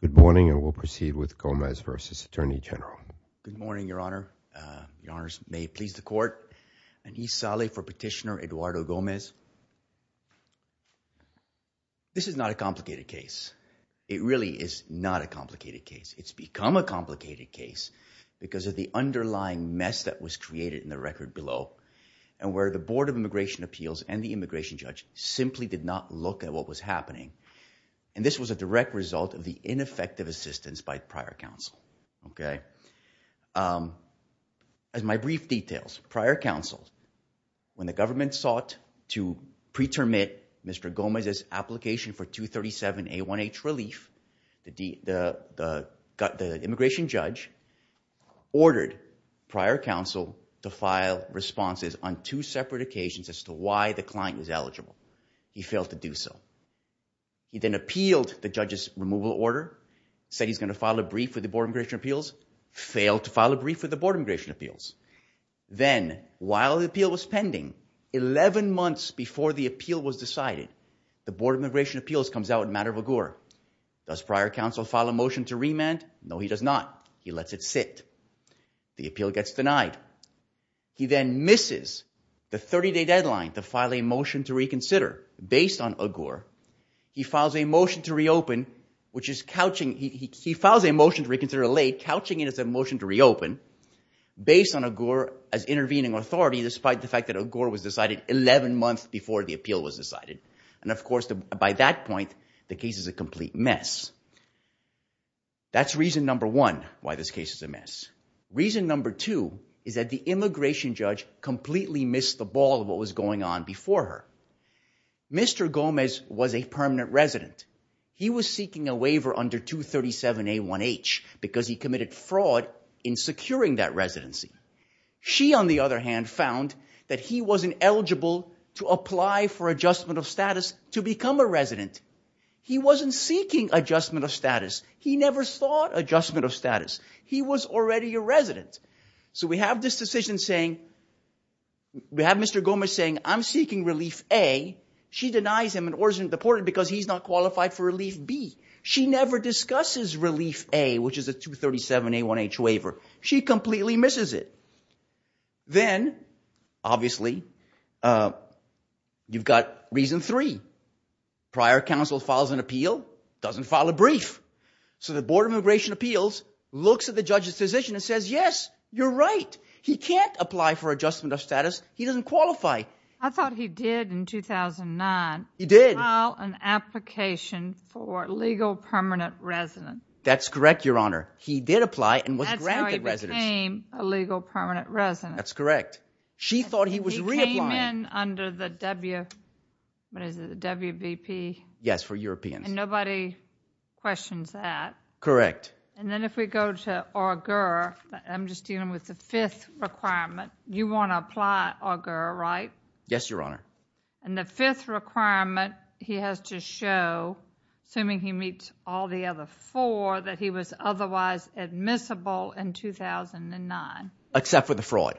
Good morning and we'll proceed with Gomez v. Attorney General. Good morning, Your Honor. Your Honors, may it please the court, Anis Saleh for Petitioner Eduardo Gomez. This is not a complicated case. It really is not a complicated case. It's become a complicated case because of the underlying mess that was created in the record below and where the Board of Immigration Appeals and the immigration judge simply did not look at what was happening. And this was a direct result of the ineffective assistance by prior counsel. As my brief details, prior counsel, when the government sought to pre-terminate Mr. Gomez's application for 237 A1H relief, the immigration judge ordered prior counsel to file responses on two separate occasions as to why the client was eligible. He failed to do so. He then appealed the judge's removal order, said he's going to file a brief with the Board of Immigration Appeals, failed to file a brief with the Board of Immigration Appeals. Then, while the appeal was pending, 11 months before the appeal was decided, the Board of Immigration Appeals comes out in a matter of a gore. Does prior counsel file a motion to remand? No, he does not. He lets it sit. The appeal gets denied. He then misses the 30-day deadline to file a motion to reconsider based on a gore. He files a motion to reconsider late, couching it as a motion to reopen, based on a gore as intervening authority despite the fact that a gore was decided 11 months before the appeal was decided. And of course, by that point, the case is a complete mess. That's reason number one why this case is a mess. Reason number two is that the immigration judge completely missed the ball of what was going on before her. Mr. Gomez was a permanent resident. He was seeking a waiver under 237 A1H because he committed fraud in securing that residency. She, on the other hand, found that he wasn't eligible to apply for Adjustment of Status to become a resident. He wasn't seeking Adjustment of Status. He never sought Adjustment of Status. He was already a resident. So we have this decision saying, we have Mr. Gomez saying, I'm seeking Relief A. She denies him and orders him deported because he's not qualified for Relief B. She never discusses the 237 A1H waiver. She completely misses it. Then, obviously, you've got reason three. Prior counsel files an appeal, doesn't file a brief. So the Board of Immigration Appeals looks at the judge's decision and says, yes, you're right. He can't apply for Adjustment of Status. He doesn't qualify. I thought he did in 2009. He did. File an application for resident. That's correct, Your Honor. He did apply and was granted residence. That's how he became a legal permanent resident. That's correct. She thought he was reapplying. He came in under the WBP. Yes, for Europeans. And nobody questions that. Correct. And then if we go to Augur, I'm just dealing with the fifth requirement. You want to apply Augur, right? Yes, Your Honor. And the fifth requirement, he has to show, assuming he meets all the other four, that he was otherwise admissible in 2009. Except for the fraud.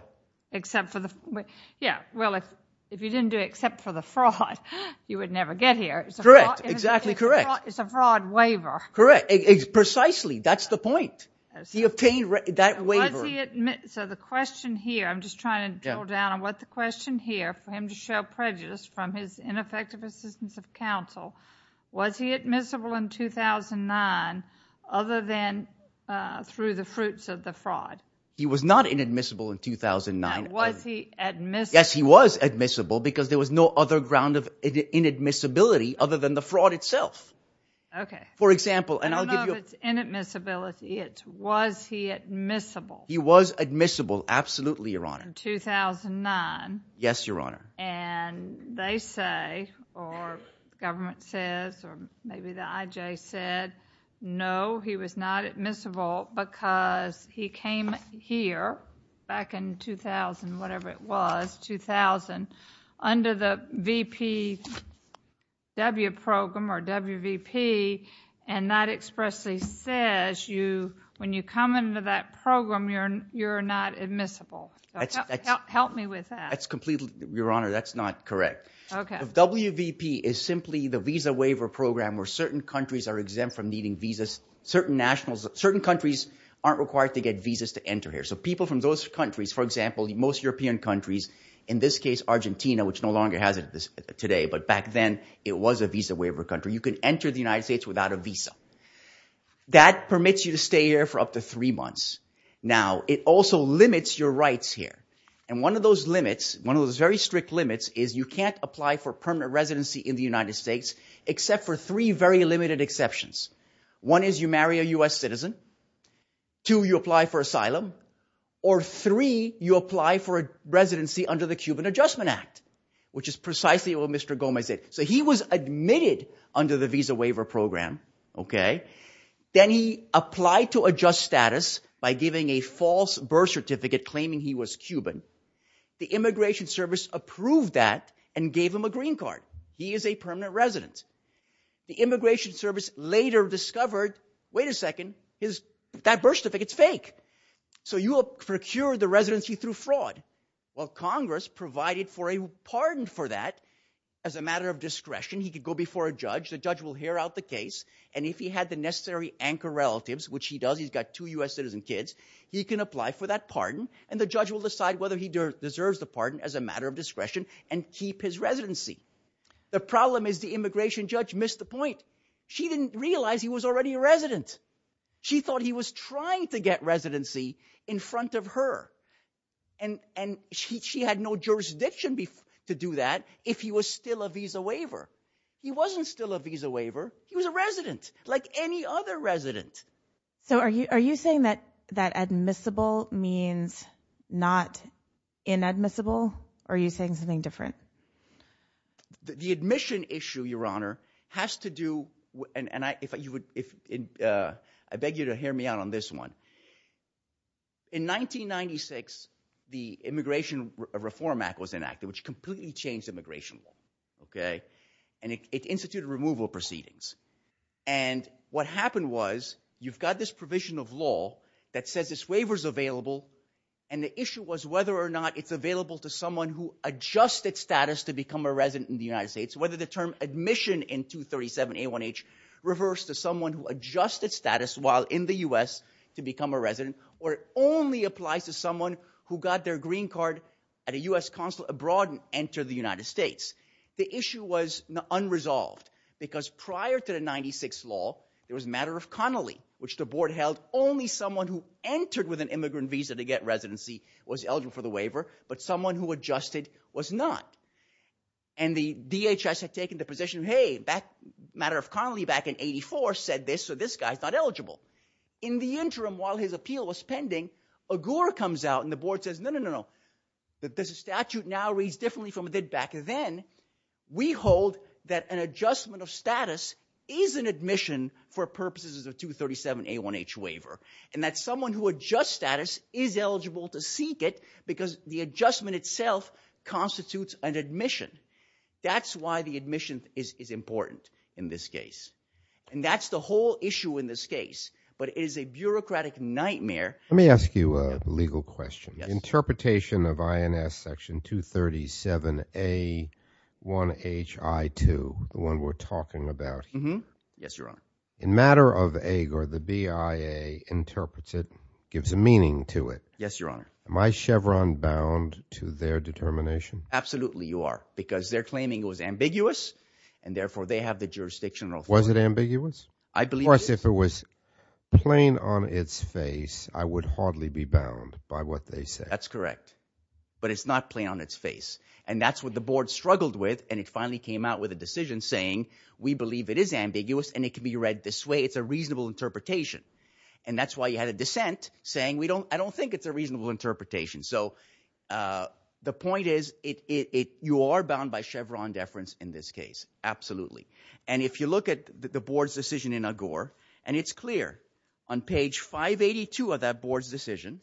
Except for the fraud. Yeah. Well, if you didn't do it except for the fraud, you would never get here. Correct. Exactly correct. It's a fraud waiver. Correct. Precisely. That's the point. He obtained that waiver. So the question here, I'm just trying to drill down on what the question here, for him to show prejudice from his ineffective assistance of counsel, was he admissible in 2009 other than through the fruits of the fraud? He was not inadmissible in 2009. Was he admissible? Yes, he was admissible because there was no other ground of inadmissibility other than the fraud itself. Okay. For example, I don't know if it's inadmissibility. It's was he admissible? He was admissible. Absolutely, Your Honor. In 2009. Yes, Your Honor. And they say, or government says, or maybe the IJ said, no, he was not admissible because he came here back in 2000, whatever it was, 2000, under the expressly says, when you come into that program, you're not admissible. Help me with that. That's completely, Your Honor, that's not correct. Okay. WVP is simply the visa waiver program where certain countries are exempt from needing visas. Certain nationals, certain countries aren't required to get visas to enter here. So people from those countries, for example, most European countries, in this case, Argentina, which no longer has it today, but back then it was a visa. That permits you to stay here for up to three months. Now, it also limits your rights here. And one of those limits, one of those very strict limits is you can't apply for permanent residency in the United States, except for three very limited exceptions. One is you marry a U.S. citizen. Two, you apply for asylum. Or three, you apply for a residency under the Cuban Adjustment Act, which is precisely what Mr. Gomez said. So he was admitted under the visa waiver program. Okay. Then he applied to adjust status by giving a false birth certificate claiming he was Cuban. The Immigration Service approved that and gave him a green card. He is a permanent resident. The Immigration Service later discovered, wait a second, that birth certificate's fake. So you provided for a pardon for that as a matter of discretion. He could go before a judge. The judge will hear out the case. And if he had the necessary anchor relatives, which he does, he's got two U.S. citizen kids, he can apply for that pardon. And the judge will decide whether he deserves the pardon as a matter of discretion and keep his residency. The problem is the immigration judge missed the point. She didn't realize he was already a resident. She thought he was trying to get residency in jurisdiction to do that if he was still a visa waiver. He wasn't still a visa waiver. He was a resident, like any other resident. So are you saying that admissible means not inadmissible? Or are you saying something different? The admission issue, Your Honor, has to do, and I beg you to hear me out on this one. In 1996, the Immigration Reform Act was enacted, which completely changed immigration law. And it instituted removal proceedings. And what happened was, you've got this provision of law that says this waiver's available. And the issue was whether or not it's available to someone who adjusted status to become a resident in the United States, whether the term is valid in the U.S. to become a resident, or it only applies to someone who got their green card at a U.S. consulate abroad and entered the United States. The issue was unresolved because prior to the 96th law, there was a matter of connolly, which the board held only someone who entered with an immigrant visa to get residency was eligible for the waiver, but someone who adjusted was not. And the DHS had taken the position, hey, that matter of connolly back in 84 said this, so this guy's not eligible. In the interim, while his appeal was pending, Agour comes out and the board says, no, no, no, no, that this statute now reads differently from it did back then. We hold that an adjustment of status is an admission for purposes of 237 A1H waiver, and that someone who adjusts status is eligible to seek it because the adjustment itself constitutes an admission. That's why the admission is important in this case, and that's the whole issue in this case, but it is a bureaucratic nightmare. Let me ask you a legal question. Interpretation of INS section 237 A1HI2, the one we're talking about, in matter of Agour, the BIA interprets it, gives a meaning to it. Yes, Your Honor. Am I Chevron bound to their determination? Absolutely, you are, because they're claiming it was ambiguous, and therefore they have the jurisdictional authority. Was it ambiguous? I believe it is. Of course, if it was plain on its face, I would hardly be bound by what they say. That's correct, but it's not plain on its face, and that's what the board struggled with, and it finally came out with a decision saying, we believe it is ambiguous, and it can be read this way. It's a reasonable interpretation, and that's why you had a dissent saying, I don't think it's a reasonable interpretation. So the point is, you are bound by Chevron deference in this case, absolutely, and if you look at the board's decision in Agour, and it's clear on page 582 of that board's decision,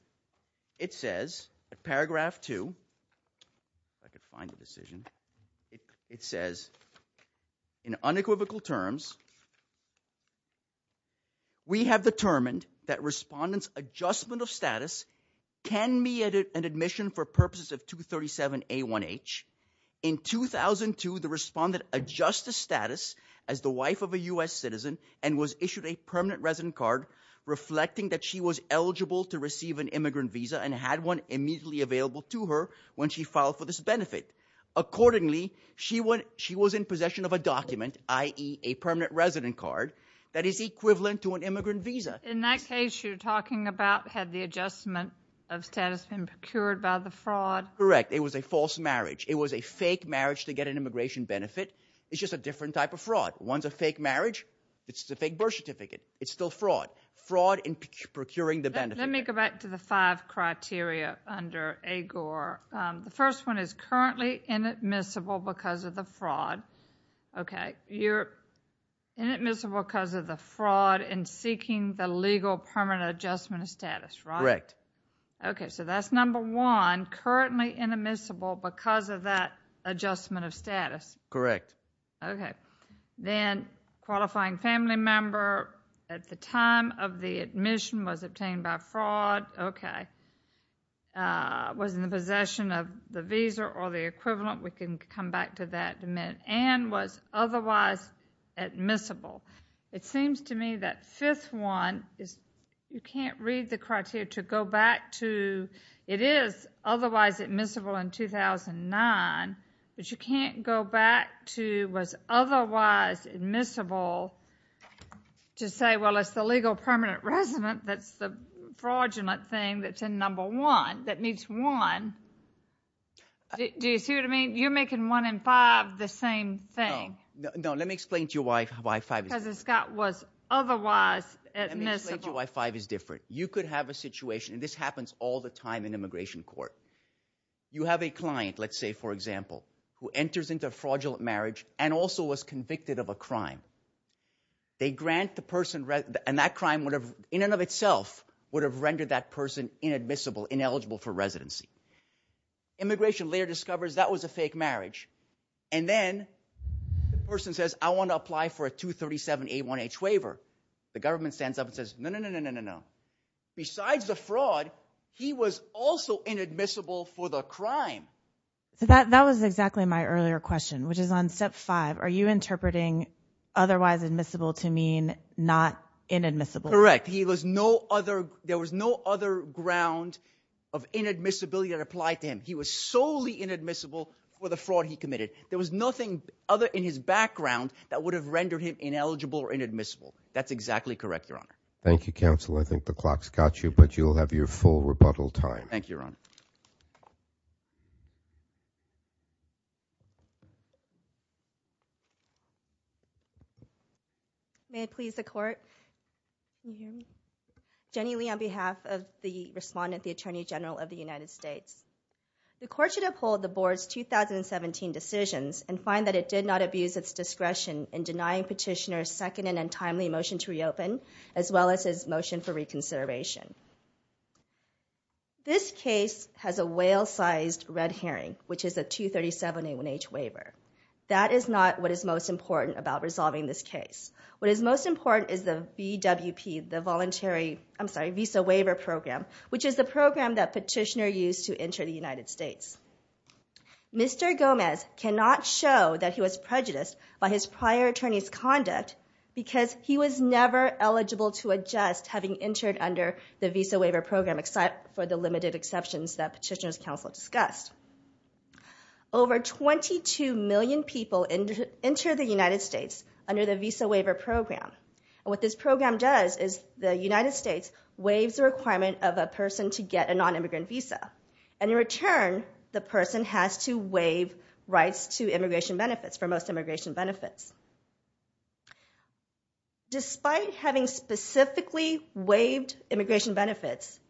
it says, paragraph two, if I can find the decision, it says, in unequivocal terms, we have determined that respondents' adjustment of status can be an admission for purposes of 237 A1H. In 2002, the respondent adjusts the status as the wife of a US citizen and was issued a permanent resident card reflecting that she was eligible to receive an immigrant visa and had one immediately available to her when she filed for this benefit. Accordingly, she was in possession of a document, i.e. a permanent resident card, that is equivalent to an immigrant visa. In that case, you're talking about, had the adjustment of status been procured by the fraud? Correct, it was a false marriage. It was a fake marriage to get an immigration benefit. It's just a different type of fraud. One's a fake marriage, it's a fake birth certificate. It's still fraud. Fraud in procuring the benefit. Let me go back to the five criteria under Agour. The first one is currently inadmissible because of the fraud. Okay, you're inadmissible because of the fraud in seeking the legal permanent adjustment of status, right? Correct. Okay, so that's number one, currently inadmissible because of that adjustment of status. Correct. Okay, then qualifying family member at the time of the admission was obtained by fraud. Okay, was in the possession of the visa or the equivalent, we can come back to that in a minute, and was otherwise admissible. It seems to me that fifth one is, you can't read the criteria to go back to, it is otherwise admissible in 2009, but you can't go back to was otherwise admissible to say, well, it's the legal permanent resident that's the fraudulent thing that's in number one, that needs one. Do you see what I mean? You're making one in five the same thing. No, let me explain to you why five is different. Because Scott was otherwise admissible. Let me explain to you why five is different. You could have a situation, and this happens all the time in immigration court. You have a client, let's say for example, who enters into a fraudulent marriage and also was convicted of a crime. They grant the person, and that crime in and of itself would have rendered that person inadmissible, ineligible for residency. Immigration later discovers that was a fake marriage. And then, the person says, I want to apply for a 237A1H waiver. The government stands up and says, no, no, no, no, no, no. Besides the fraud, he was also inadmissible for the crime. So that was exactly my earlier question, which is on step five. Are you interpreting otherwise admissible to mean not inadmissible? Correct, there was no other ground of inadmissibility that applied to him. He was solely inadmissible for the fraud he committed. There was nothing other in his background that would have rendered him ineligible or inadmissible. That's exactly correct, your honor. Thank you, counsel. I think the clock's got you, but you'll have your full rebuttal time. Thank you, your honor. May it please the court? Can you hear me? Jenny Lee on behalf of the respondent, the Attorney General of the United States. The court should uphold the board's 2017 decisions and find that it did not abuse its discretion in denying petitioner's second and untimely motion to reopen, as well as his motion for reconsideration. This case has a whale-sized red herring, which is a 237A1H waiver. That is not what is most important about resolving this case. What is most important is the VWP, the voluntary, I'm sorry, Visa Waiver Program, which is the program that petitioner used to enter the United States. Mr. Gomez cannot show that he was prejudiced by his prior attorney's conduct because he was never eligible to adjust having entered under the Visa Waiver Program, except for the limited exceptions that petitioner's counsel discussed. Over 22 million people enter the United States under the Visa Waiver Program. What this program does is the United States waives the requirement of a person to get a non-immigrant visa, and in return, the person has to waive rights to immigration benefits for most immigration benefits. Despite having specifically waived immigration benefits,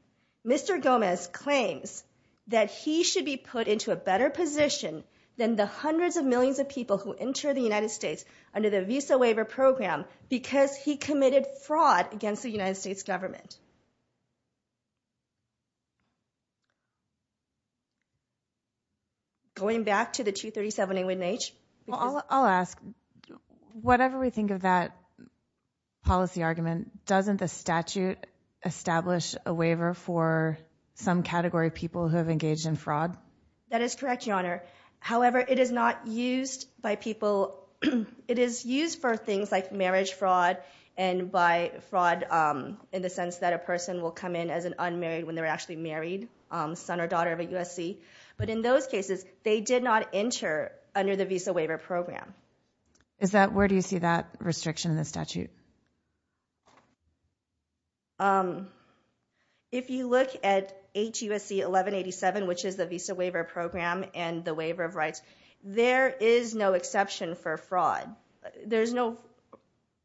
Mr. Gomez claims that he should be put into a better position than the hundreds of millions of people who enter the United States under the Visa Waiver Program because he committed fraud against the United States government. Going back to the 237A1H. Well, I'll ask, whatever we think of that policy argument, doesn't the statute establish a waiver for some category of people who have engaged in fraud? That is correct, Your Honor. However, it is not used by people, it is used for things like marriage fraud, and by fraud in the sense that a person will come in as an unmarried when they're actually married, son or daughter of a USC. But in those cases, they did not enter under the Visa Waiver Program. Is that, where do you see that restriction in the statute? If you look at HUSC 1187, which is the Visa Waiver Program and the waiver of rights, there is no exception for fraud. There's no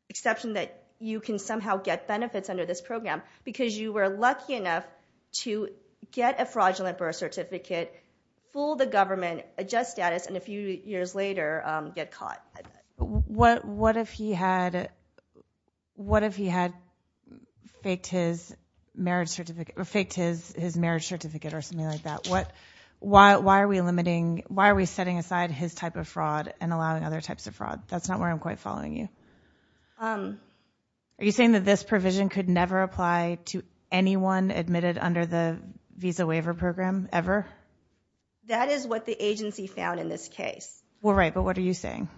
exception that you can somehow get benefits under this program because you were lucky enough to get a fraudulent birth certificate, fool the government, adjust status, and a few years later, get caught. What if he had faked his marriage certificate or something like that? Why are we limiting, why are we setting aside his type of fraud and allowing other types of fraud? That's not where I'm quite following you. Are you saying that this provision could never apply to anyone admitted under the Visa Waiver Program, ever? That is what the agency found in this case. Well, right, but what are you saying?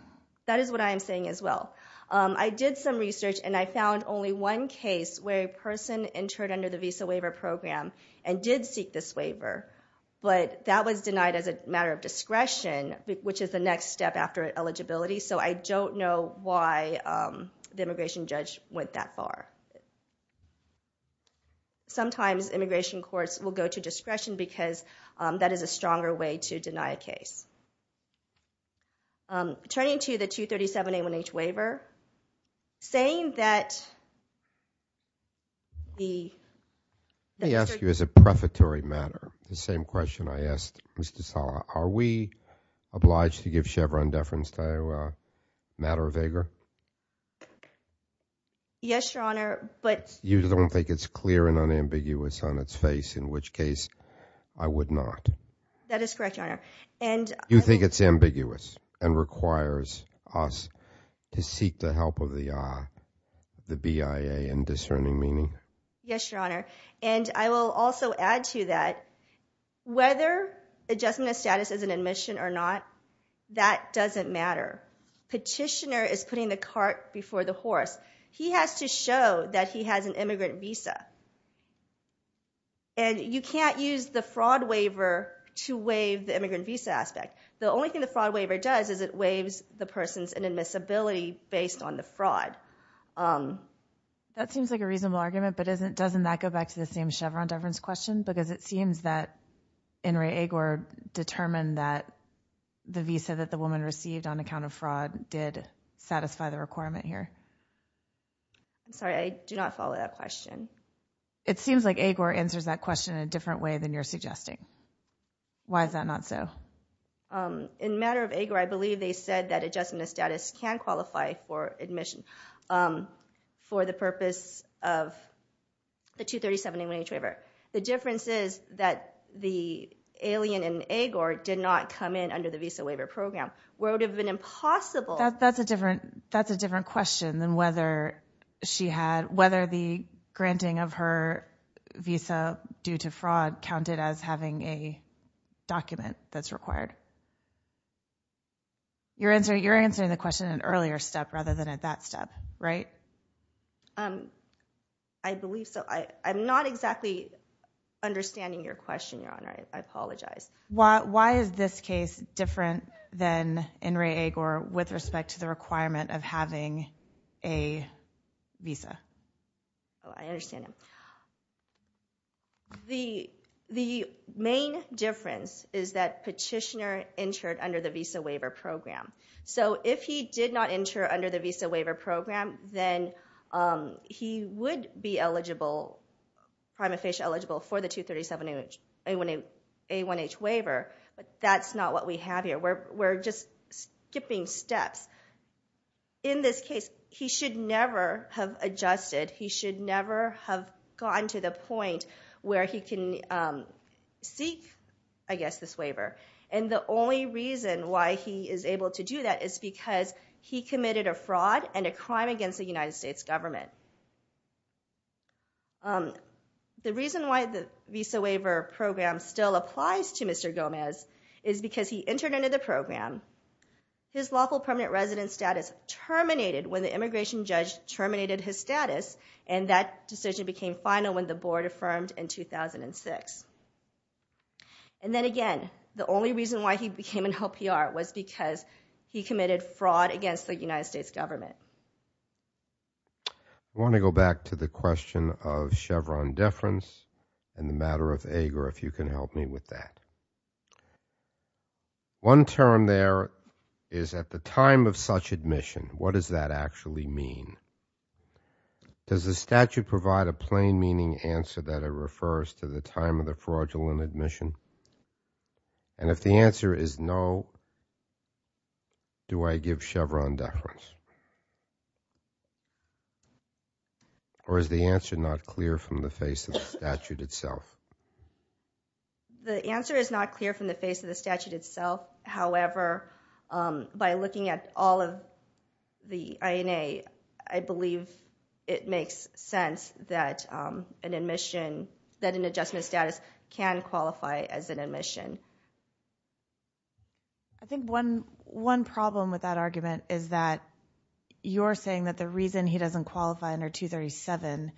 That is what I am saying as well. I did some research and I found only one case where a person entered under the Visa Waiver Program and did seek this waiver, but that was denied as a matter of discretion, which is the next step after eligibility. So I don't know why the immigration judge went that far. Sometimes immigration courts will go to discretion because that is a stronger way to deny a case. Turning to the 237-A1H waiver, saying that the... Let me ask you as a prefatory matter, the same question I asked Mr. Sala, are we obliged to give Chevron deference to a matter of vigor? Yes, Your Honor, but... You don't think it's clear and unambiguous on its face, in which case, I would not. That is correct, Your Honor. And... You think it's ambiguous and requires us to seek the help of the BIA in discerning meaning? Yes, Your Honor, and I will also add to that, whether adjustment of status is an admission or not, that doesn't matter. Petitioner is putting the cart before the horse. He has to show that he has an immigrant visa. And you can't use the fraud waiver to waive the immigrant visa aspect. The only thing the fraud waiver does is it waives the person's inadmissibility based on the fraud. That seems like a reasonable argument, but doesn't that go back to the same Chevron deference question? Because it seems that In re Agor determined that the visa that the woman received on account of fraud did satisfy the requirement here. I'm sorry, I do not follow that question. It seems like Agor answers that question in a different way than you're suggesting. Why is that not so? In matter of Agor, I believe they said that adjustment of status can qualify for admission for the purpose of the 237 A1H waiver. The difference is that the alien in Agor did not come in under the visa waiver program, where it would have been impossible... That's a different question than whether the granting of her visa due to fraud counted as having a document that's required. You're answering the question at an earlier step rather than at that step, right? I believe so. I'm not exactly understanding your question, Your Honor. I apologize. Why is this case different than In re Agor with respect to the requirement of having a visa? I understand. The main difference is that Petitioner entered under the visa waiver program. So if he did not enter under the visa waiver program, then he would be eligible, prima facie eligible, for the 237 A1H waiver. But that's not what we have here. We're just skipping steps. In this case, he should never have adjusted. He should never have gotten to the point where he can seek, I guess, this waiver. And the only reason why he is able to do that is because he committed a fraud and a crime against the United States government. The reason why the visa waiver program still applies to Mr. Gomez is because he entered under the program. His lawful permanent resident status terminated when the immigration judge terminated his status, and that decision became final when the board affirmed in 2006. And then again, the only reason why he became an LPR was because he committed fraud against the United States government. I want to go back to the question of Chevron deference and the matter of AGR if you can help me with that. One term there is at the time of such admission. What does that actually mean? Does the statute provide a plain meaning answer that it refers to the time of the fraudulent admission? And if the answer is no, do I give Chevron deference? Or is the answer not clear from the face of the statute itself? The answer is not clear from the face of the statute itself. However, by looking at all of the INA, I believe it makes sense that an admission, that an adjustment status can qualify as an admission. I think one problem with that argument is that you're saying that the reason he doesn't qualify under 237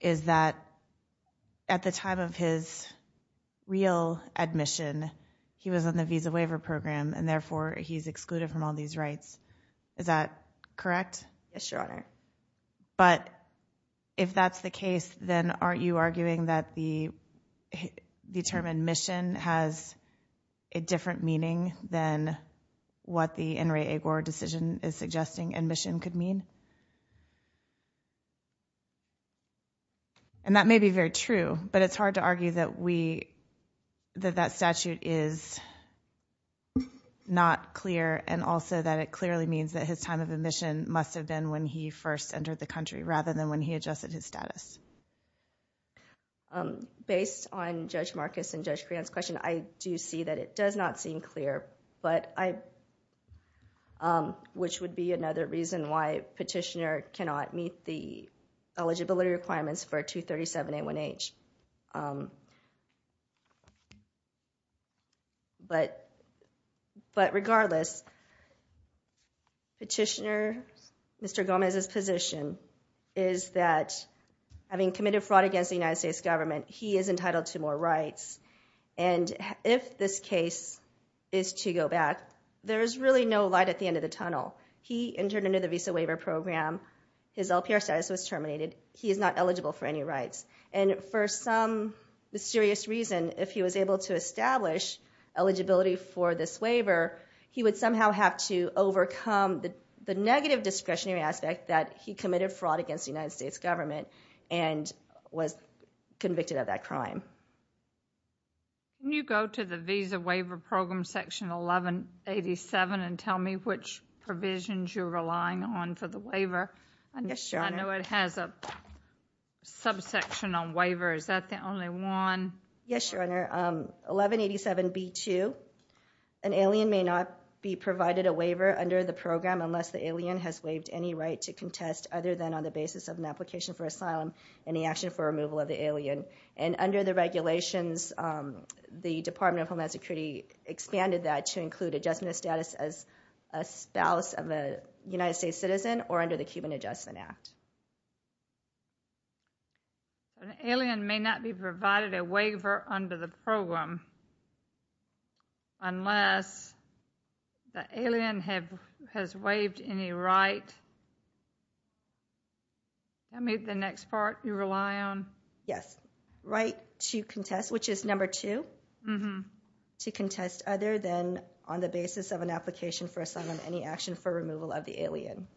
is that at the time of his real admission, he was on the visa waiver program and therefore he's excluded from all these rights. Is that correct? Yes, Your Honor. But if that's the case, then aren't you arguing that the admission has a different meaning than what the In re Agor decision is suggesting admission could mean? And that may be very true, but it's hard to argue that we, that that statute is not clear and also that it clearly means that his time of admission must have been when he first entered the country rather than when he adjusted his status. Based on Judge Marcus and Judge Creon's question, I do see that it does not seem clear, which would be another reason why Petitioner cannot meet the eligibility requirements for 237A1H. But regardless, Petitioner, Mr. Gomez's position is that having committed fraud against the United States government, he is entitled to more rights. And if this case is to go back, there is really no light at the end of the tunnel. He entered under the visa waiver program. His LPR status was terminated. He is not eligible for any rights. And for some mysterious reason, if he was able to establish eligibility for this waiver, he would somehow have to overcome the negative discretionary aspect that he committed fraud against the United States government and was convicted of that crime. Can you go to the visa waiver program section 1187 and tell me which provisions you're relying on for the waiver? Yes, Your Honor. I know it has a subsection on waiver. Is that the only one? Yes, Your Honor. 1187B2, an alien may not be provided a waiver under the program unless the alien has waived any right to contest, other than on the basis of an application for asylum, any action for removal of the alien. And under the regulations, the Department of Homeland Security expanded that to include adjustment of status as a spouse of a United States citizen or under the Cuban Adjustment Act. An alien may not be provided a waiver under the program unless the alien has waived any right. Tell me the next part you rely on. Yes, right to contest, which is number two, to contest other than on the basis of an application for asylum, any action for removal of the alien.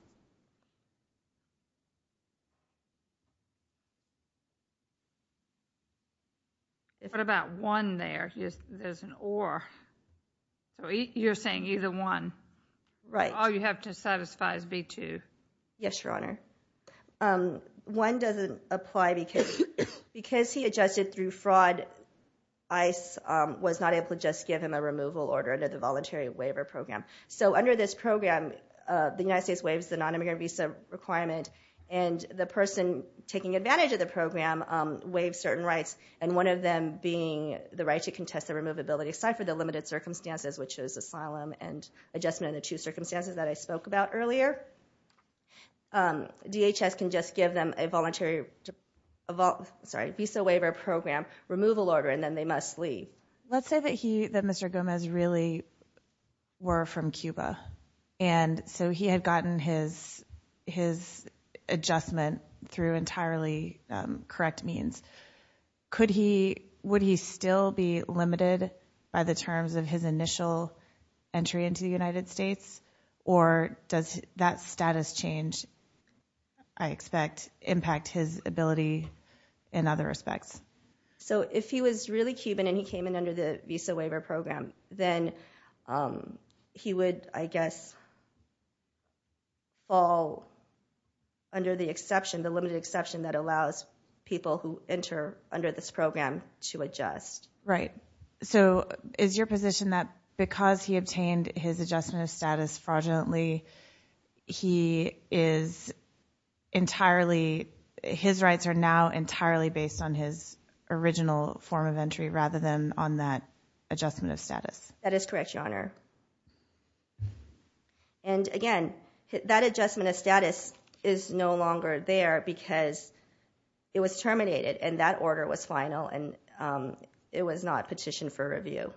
What about one there? There's an or. You're saying either one. Right. All you have to satisfy is B2. Yes, Your Honor. One doesn't apply because he adjusted through fraud. ICE was not able to just give him a removal order under the Voluntary Waiver Program. So under this program, the United States Waiver Program waives the non-immigrant visa requirement, and the person taking advantage of the program waives certain rights, and one of them being the right to contest the removability aside from the limited circumstances, which is asylum and adjustment under two circumstances that I spoke about earlier. DHS can just give them a voluntary visa waiver program removal order, and then they must leave. Let's say that Mr. Gomez really were from Cuba, and so he had gotten his adjustment through entirely correct means. Would he still be limited by the terms of his initial entry into the United States, or does that status change, I expect, impact his ability in other respects? If he was really Cuban and he came in under the Visa Waiver Program, then he would, I guess, fall under the exception, the limited exception that allows people who enter under this program to adjust. Right. So is your position that because he obtained his adjustment of status fraudulently, his rights are now entirely based on his original form of entry rather than on that adjustment of status? That is correct, Your Honor. And, again, that adjustment of status is no longer there because it was terminated and that order was final and it was not petitioned for review.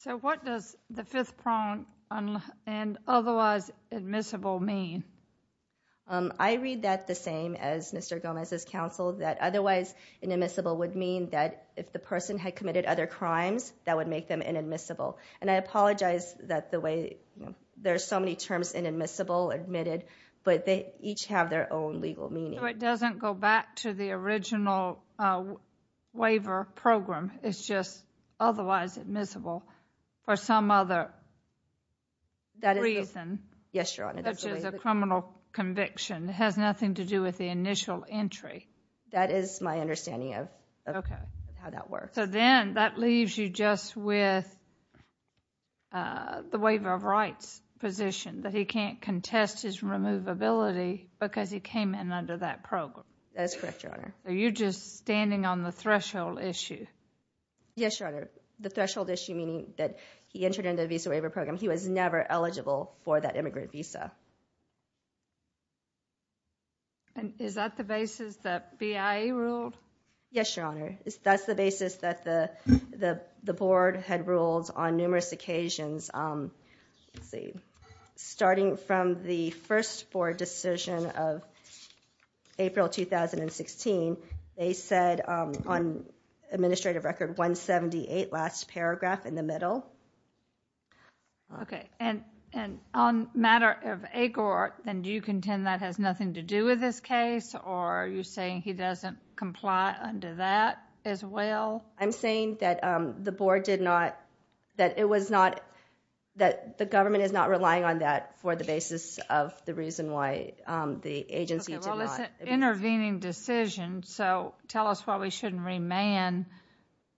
So what does the fifth prong and otherwise admissible mean? I read that the same as Mr. Gomez's counsel, that otherwise inadmissible would mean that if the person had committed other crimes, that would make them inadmissible. And I apologize that there are so many terms, inadmissible, admitted, but they each have their own legal meaning. So it doesn't go back to the original waiver program. It's just otherwise admissible for some other reason. Yes, Your Honor. Such as a criminal conviction. It has nothing to do with the initial entry. That is my understanding of how that works. So then that leaves you just with the waiver of rights position, that he can't contest his removability because he came in under that program. That is correct, Your Honor. Are you just standing on the threshold issue? Yes, Your Honor. The threshold issue meaning that he entered under the visa waiver program. He was never eligible for that immigrant visa. Is that the basis that BIA ruled? Yes, Your Honor. That's the basis that the board had ruled on numerous occasions. Starting from the first board decision of April 2016, they said on administrative record 178, last paragraph in the middle. Okay. And on matter of Agor, then do you contend that has nothing to do with this case or are you saying he doesn't comply under that as well? I'm saying that the board did not... that it was not... that the government is not relying on that for the basis of the reason why the agency did not... It's an intervening decision, so tell us why we shouldn't remand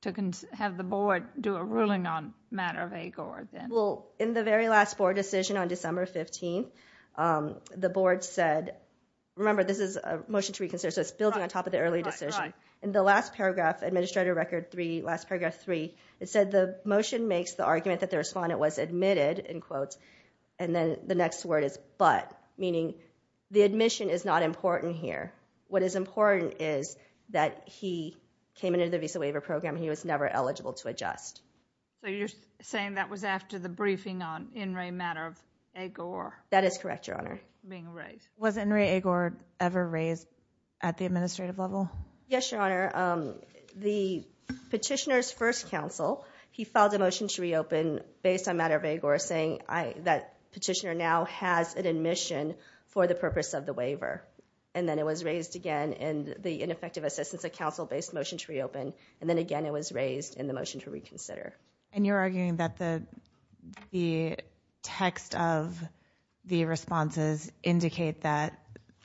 to have the board do a ruling on matter of Agor. Well, in the very last board decision on December 15th, the board said... Remember, this is a motion to reconsider, so it's building on top of the early decision. Right, right. In the last paragraph, administrative record 3, last paragraph 3, it said the motion makes the argument that the respondent was admitted, in quotes, and then the next word is but, meaning the admission is not important here. What is important is that he came into the Visa Waiver Program and he was never eligible to adjust. So you're saying that was after the briefing on in re matter of Agor? That is correct, Your Honor. Being raised. Was in re Agor ever raised at the administrative level? Yes, Your Honor. The petitioner's first counsel, he filed a motion to reopen based on matter of Agor saying that petitioner now has an admission for the purpose of the waiver. And then it was raised again in the ineffective assistance of counsel based motion to reopen, and then again it was raised in the motion to reconsider. And you're arguing that the text of the responses indicate that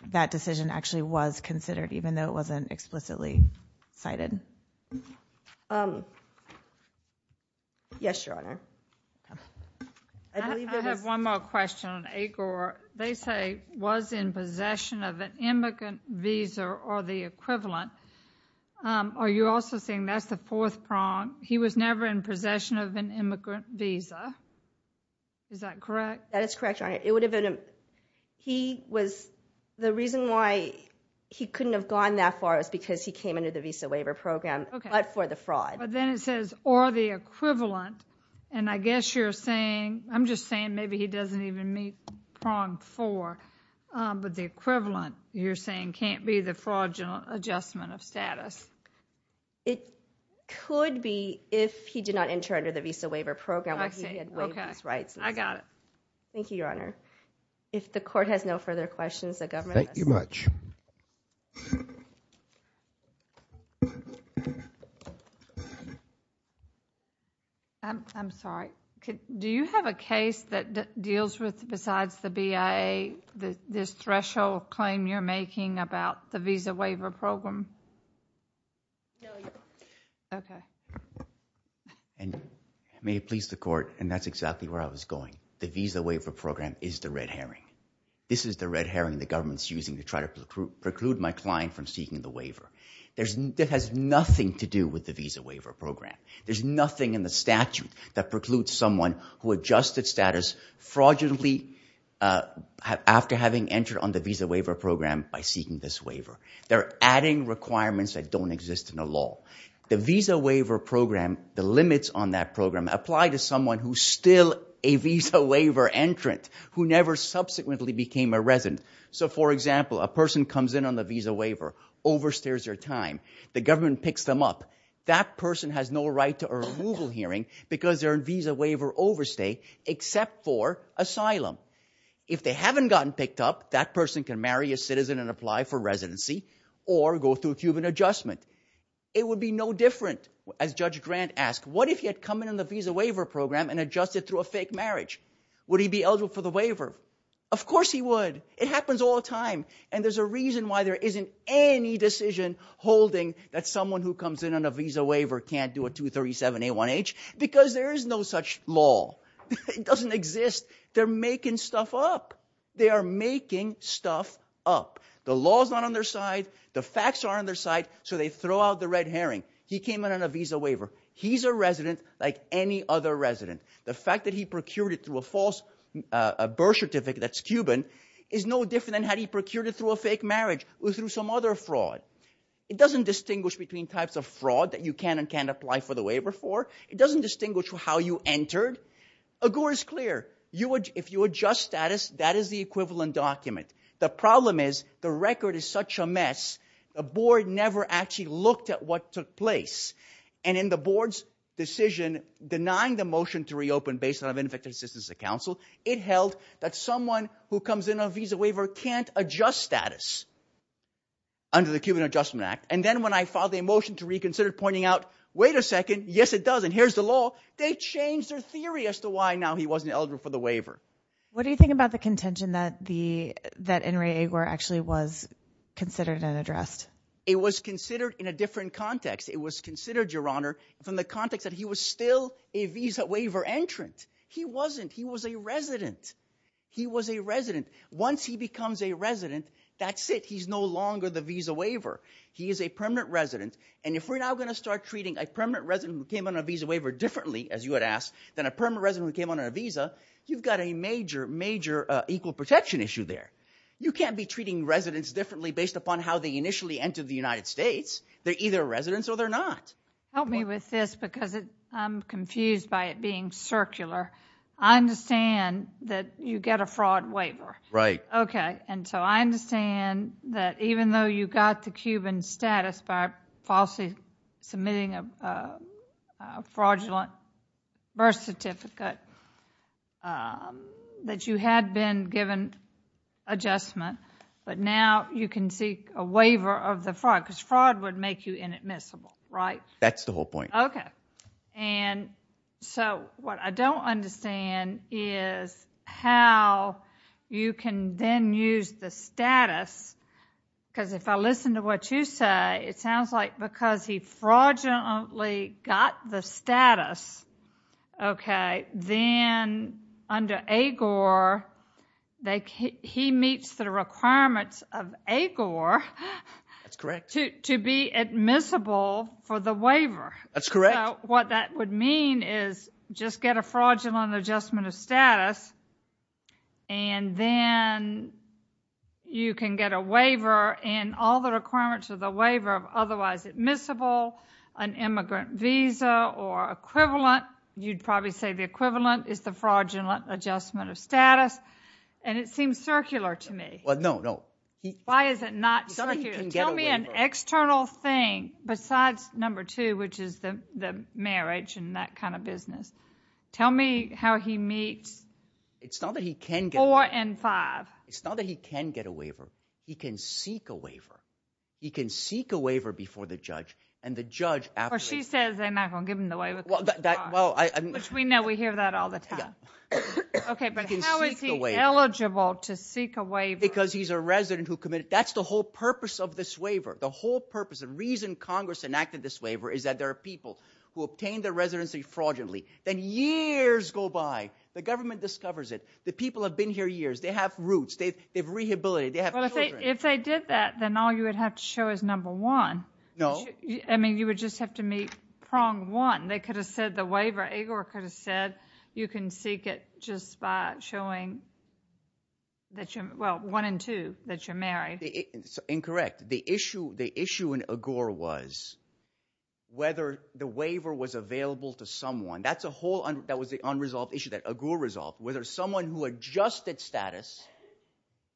that decision actually was considered, even though it wasn't explicitly cited? Yes, Your Honor. I have one more question on Agor. They say was in possession of an immigrant visa or the equivalent. Are you also saying that's the fourth prong? He was never in possession of an immigrant visa. Is that correct? That is correct, Your Honor. It would have been, he was, the reason why he couldn't have gone that far is because he came into the Visa Waiver Program, but for the fraud. But then it says, or the equivalent, and I guess you're saying, I'm just saying maybe he doesn't even meet prong four, but the equivalent you're saying can't be the fraudulent adjustment of status. It could be if he did not enter under the Visa Waiver Program. I got it. Thank you, Your Honor. If the court has no further questions, the government. Thank you much. I'm sorry. Do you have a case that deals with, besides the BIA, this threshold claim you're making about the Visa Waiver Program? No, Your Honor. Okay. May it please the court, and that's exactly where I was going, the Visa Waiver Program is the red herring. This is the red herring the government's using to try to preclude my client from seeking the waiver. It has nothing to do with the Visa Waiver Program. There's nothing in the statute that precludes someone who adjusted status fraudulently after having entered on the Visa Waiver Program by seeking this waiver. They're adding requirements that don't exist in the law. The Visa Waiver Program, the limits on that program, apply to someone who's still a Visa Waiver entrant, who never subsequently became a resident. So, for example, a person comes in on the Visa Waiver, overstays their time, the government picks them up. That person has no right to a removal hearing because they're in Visa Waiver overstay except for asylum. If they haven't gotten picked up, that person can marry a citizen and apply for residency or go through Cuban adjustment. It would be no different, as Judge Grant asked, what if he had come in on the Visa Waiver Program and adjusted through a fake marriage? Would he be eligible for the waiver? Of course he would. It happens all the time. And there's a reason why there isn't any decision holding that someone who comes in on a Visa Waiver can't do a 237A1H, because there is no such law. It doesn't exist. They're making stuff up. They are making stuff up. The law is not on their side. The facts are on their side. So they throw out the red herring. He came in on a Visa Waiver. He's a resident like any other resident. The fact that he procured it through a false birth certificate that's no different than had he procured it through a fake marriage or through some other fraud. It doesn't distinguish between types of fraud that you can and can't apply for the waiver for. It doesn't distinguish how you entered. AGOR is clear. If you adjust status, that is the equivalent document. The problem is the record is such a mess, the board never actually looked at what took place. And in the board's decision denying the motion to reopen based on a Visa Waiver can't adjust status under the Cuban Adjustment Act. And then when I filed the motion to reconsider pointing out, wait a second, yes it does, and here's the law, they changed their theory as to why now he wasn't eligible for the waiver. What do you think about the contention that the, that Enrique Agor actually was considered and addressed? It was considered in a different context. It was considered, Your Honor, from the context that he was still a Visa Waiver entrant. He wasn't, he was a resident. He was a resident. Once he becomes a resident, that's it. He's no longer the Visa Waiver. He is a permanent resident. And if we're now going to start treating a permanent resident who came on a Visa Waiver differently, as you had asked, than a permanent resident who came on a Visa, you've got a major, major equal protection issue there. You can't be treating residents differently based upon how they initially entered the United States. They're either residents or they're not. Help me with this because I'm confused by it being circular. I understand that you get a fraud waiver. Right. Okay. And so I understand that even though you got the Cuban status by falsely submitting a fraudulent birth certificate, that you had been given adjustment, but now you can seek a waiver of the fraud, because fraud would make you inadmissible, right? That's the whole point. Okay. And so what I don't understand is how you can then use the status, because if I listen to what you say, it sounds like because he fraudulently got the status, okay, then under AGOR, he meets the requirements of AGOR. That's correct. To be admissible for the waiver. That's correct. So what that would mean is just get a fraudulent adjustment of status, and then you can get a waiver, and all the requirements of the waiver are otherwise admissible, an immigrant visa or equivalent. You'd probably say the equivalent is the fraudulent adjustment of status, and it seems circular to me. Well, no, no. Why is it not circular? Tell me an external thing besides number two, which is the marriage and that kind of business. Tell me how he meets four and five. It's not that he can get a waiver. He can seek a waiver. He can seek a waiver before the judge, and the judge... Or she says they're not going to give him the waiver because of fraud, which we know we hear that all the time. Yeah. Okay, but how is he eligible to seek a waiver? Because he's a resident who committed... That's the whole purpose of this waiver. The whole purpose, the reason Congress enacted this waiver, is that there are people who obtain their residency fraudulently. Then years go by. The government discovers it. The people have been here years. They have roots. They have rehabilitated. They have children. Well, if they did that, then all you would have to show is number one. No. I mean, you would just have to meet prong one. They could have said the waiver. Igor could have said you can seek it just by showing that you're... Incorrect. The issue in Igor was whether the waiver was available to someone. That's a whole... That was the unresolved issue that Igor resolved, whether someone who adjusted status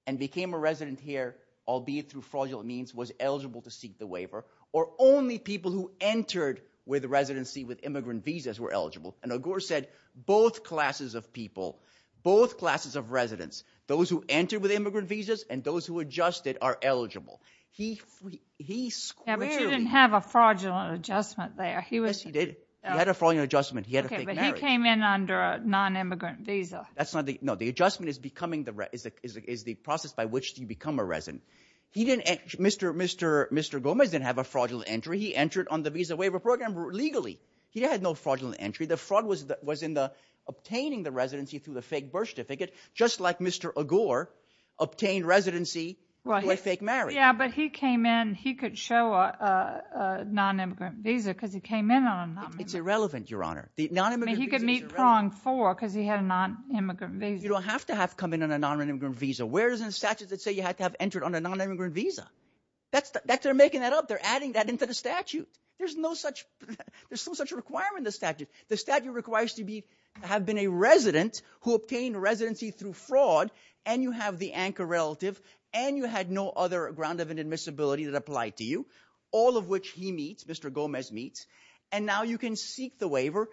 and became a resident here, albeit through fraudulent means, was eligible to seek the waiver, or only people who entered with residency with immigrant visas were eligible. And Igor said both classes of people, both classes of residents, those who entered with immigrant visas and those who adjusted are eligible. He squarely... Yeah, but you didn't have a fraudulent adjustment there. Yes, he did. He had a fraudulent adjustment. He had a fake marriage. Okay, but he came in under a non-immigrant visa. That's not the... No, the adjustment is the process by which you become a resident. He didn't... Mr. Gomez didn't have a fraudulent entry. He entered on the Visa Waiver Program legally. He had no fraudulent entry. The fraud was in obtaining the residency through the fake birth certificate, just like Mr. Igor obtained residency through a fake marriage. Yeah, but he came in. He could show a non-immigrant visa because he came in on a non-immigrant visa. It's irrelevant, Your Honor. He could meet prong four because he had a non-immigrant visa. You don't have to have come in on a non-immigrant visa. Where is it in the statute that says you have to have entered on a non-immigrant visa? They're making that up. They're adding that into the statute. There's no such requirement in the statute. The statute requires you to have been a resident who obtained residency through fraud, and you have the anchor relative, and you had no other ground of admissibility that applied to you, all of which he meets, Mr. Gomez meets, and now you can seek the waiver.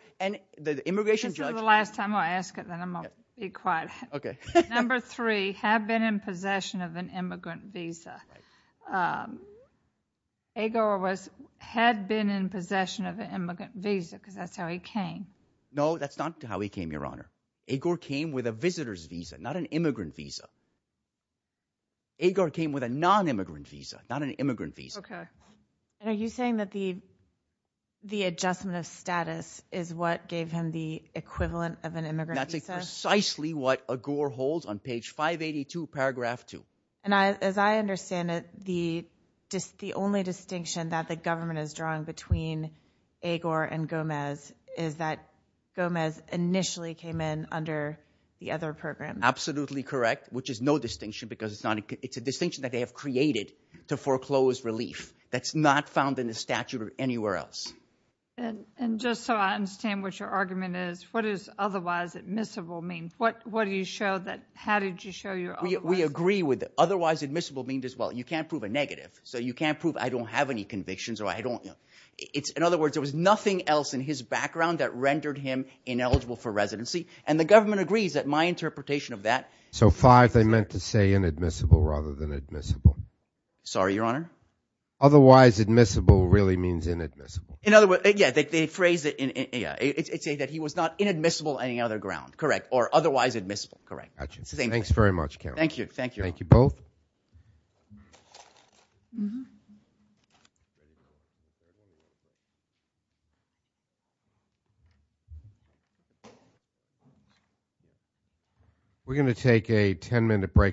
The immigration judge... Until the last time I ask it, then I'm going to be quiet. Okay. Number three, have been in possession of an immigrant visa. Right. Igor had been in possession of an immigrant visa because that's how he came. No, that's not how he came, Your Honor. Igor came with a visitor's visa, not an immigrant visa. Igor came with a non-immigrant visa, not an immigrant visa. Okay. Are you saying that the adjustment of status is what gave him the equivalent of an immigrant visa? That's precisely what Igor holds on page 582, paragraph 2. And as I understand it, the only distinction that the government is drawing between Igor and Gomez is that Gomez initially came in under the other program. Absolutely correct, which is no distinction because it's a distinction that they have created to foreclose relief. That's not found in the statute or anywhere else. And just so I understand what your argument is, what does otherwise admissible mean? What do you show that... how did you show your otherwise... Well, we agree with otherwise admissible being just, well, you can't prove a negative. So you can't prove I don't have any convictions or I don't. In other words, there was nothing else in his background that rendered him ineligible for residency. And the government agrees that my interpretation of that... So five, they meant to say inadmissible rather than admissible. Sorry, Your Honor? Otherwise admissible really means inadmissible. In other words, yeah, they phrased it. It said that he was not inadmissible on any other ground, correct, or otherwise admissible, correct. Got you. Thanks very much. Thank you. Thank you. Thank you both. We're going to take a 10-minute break.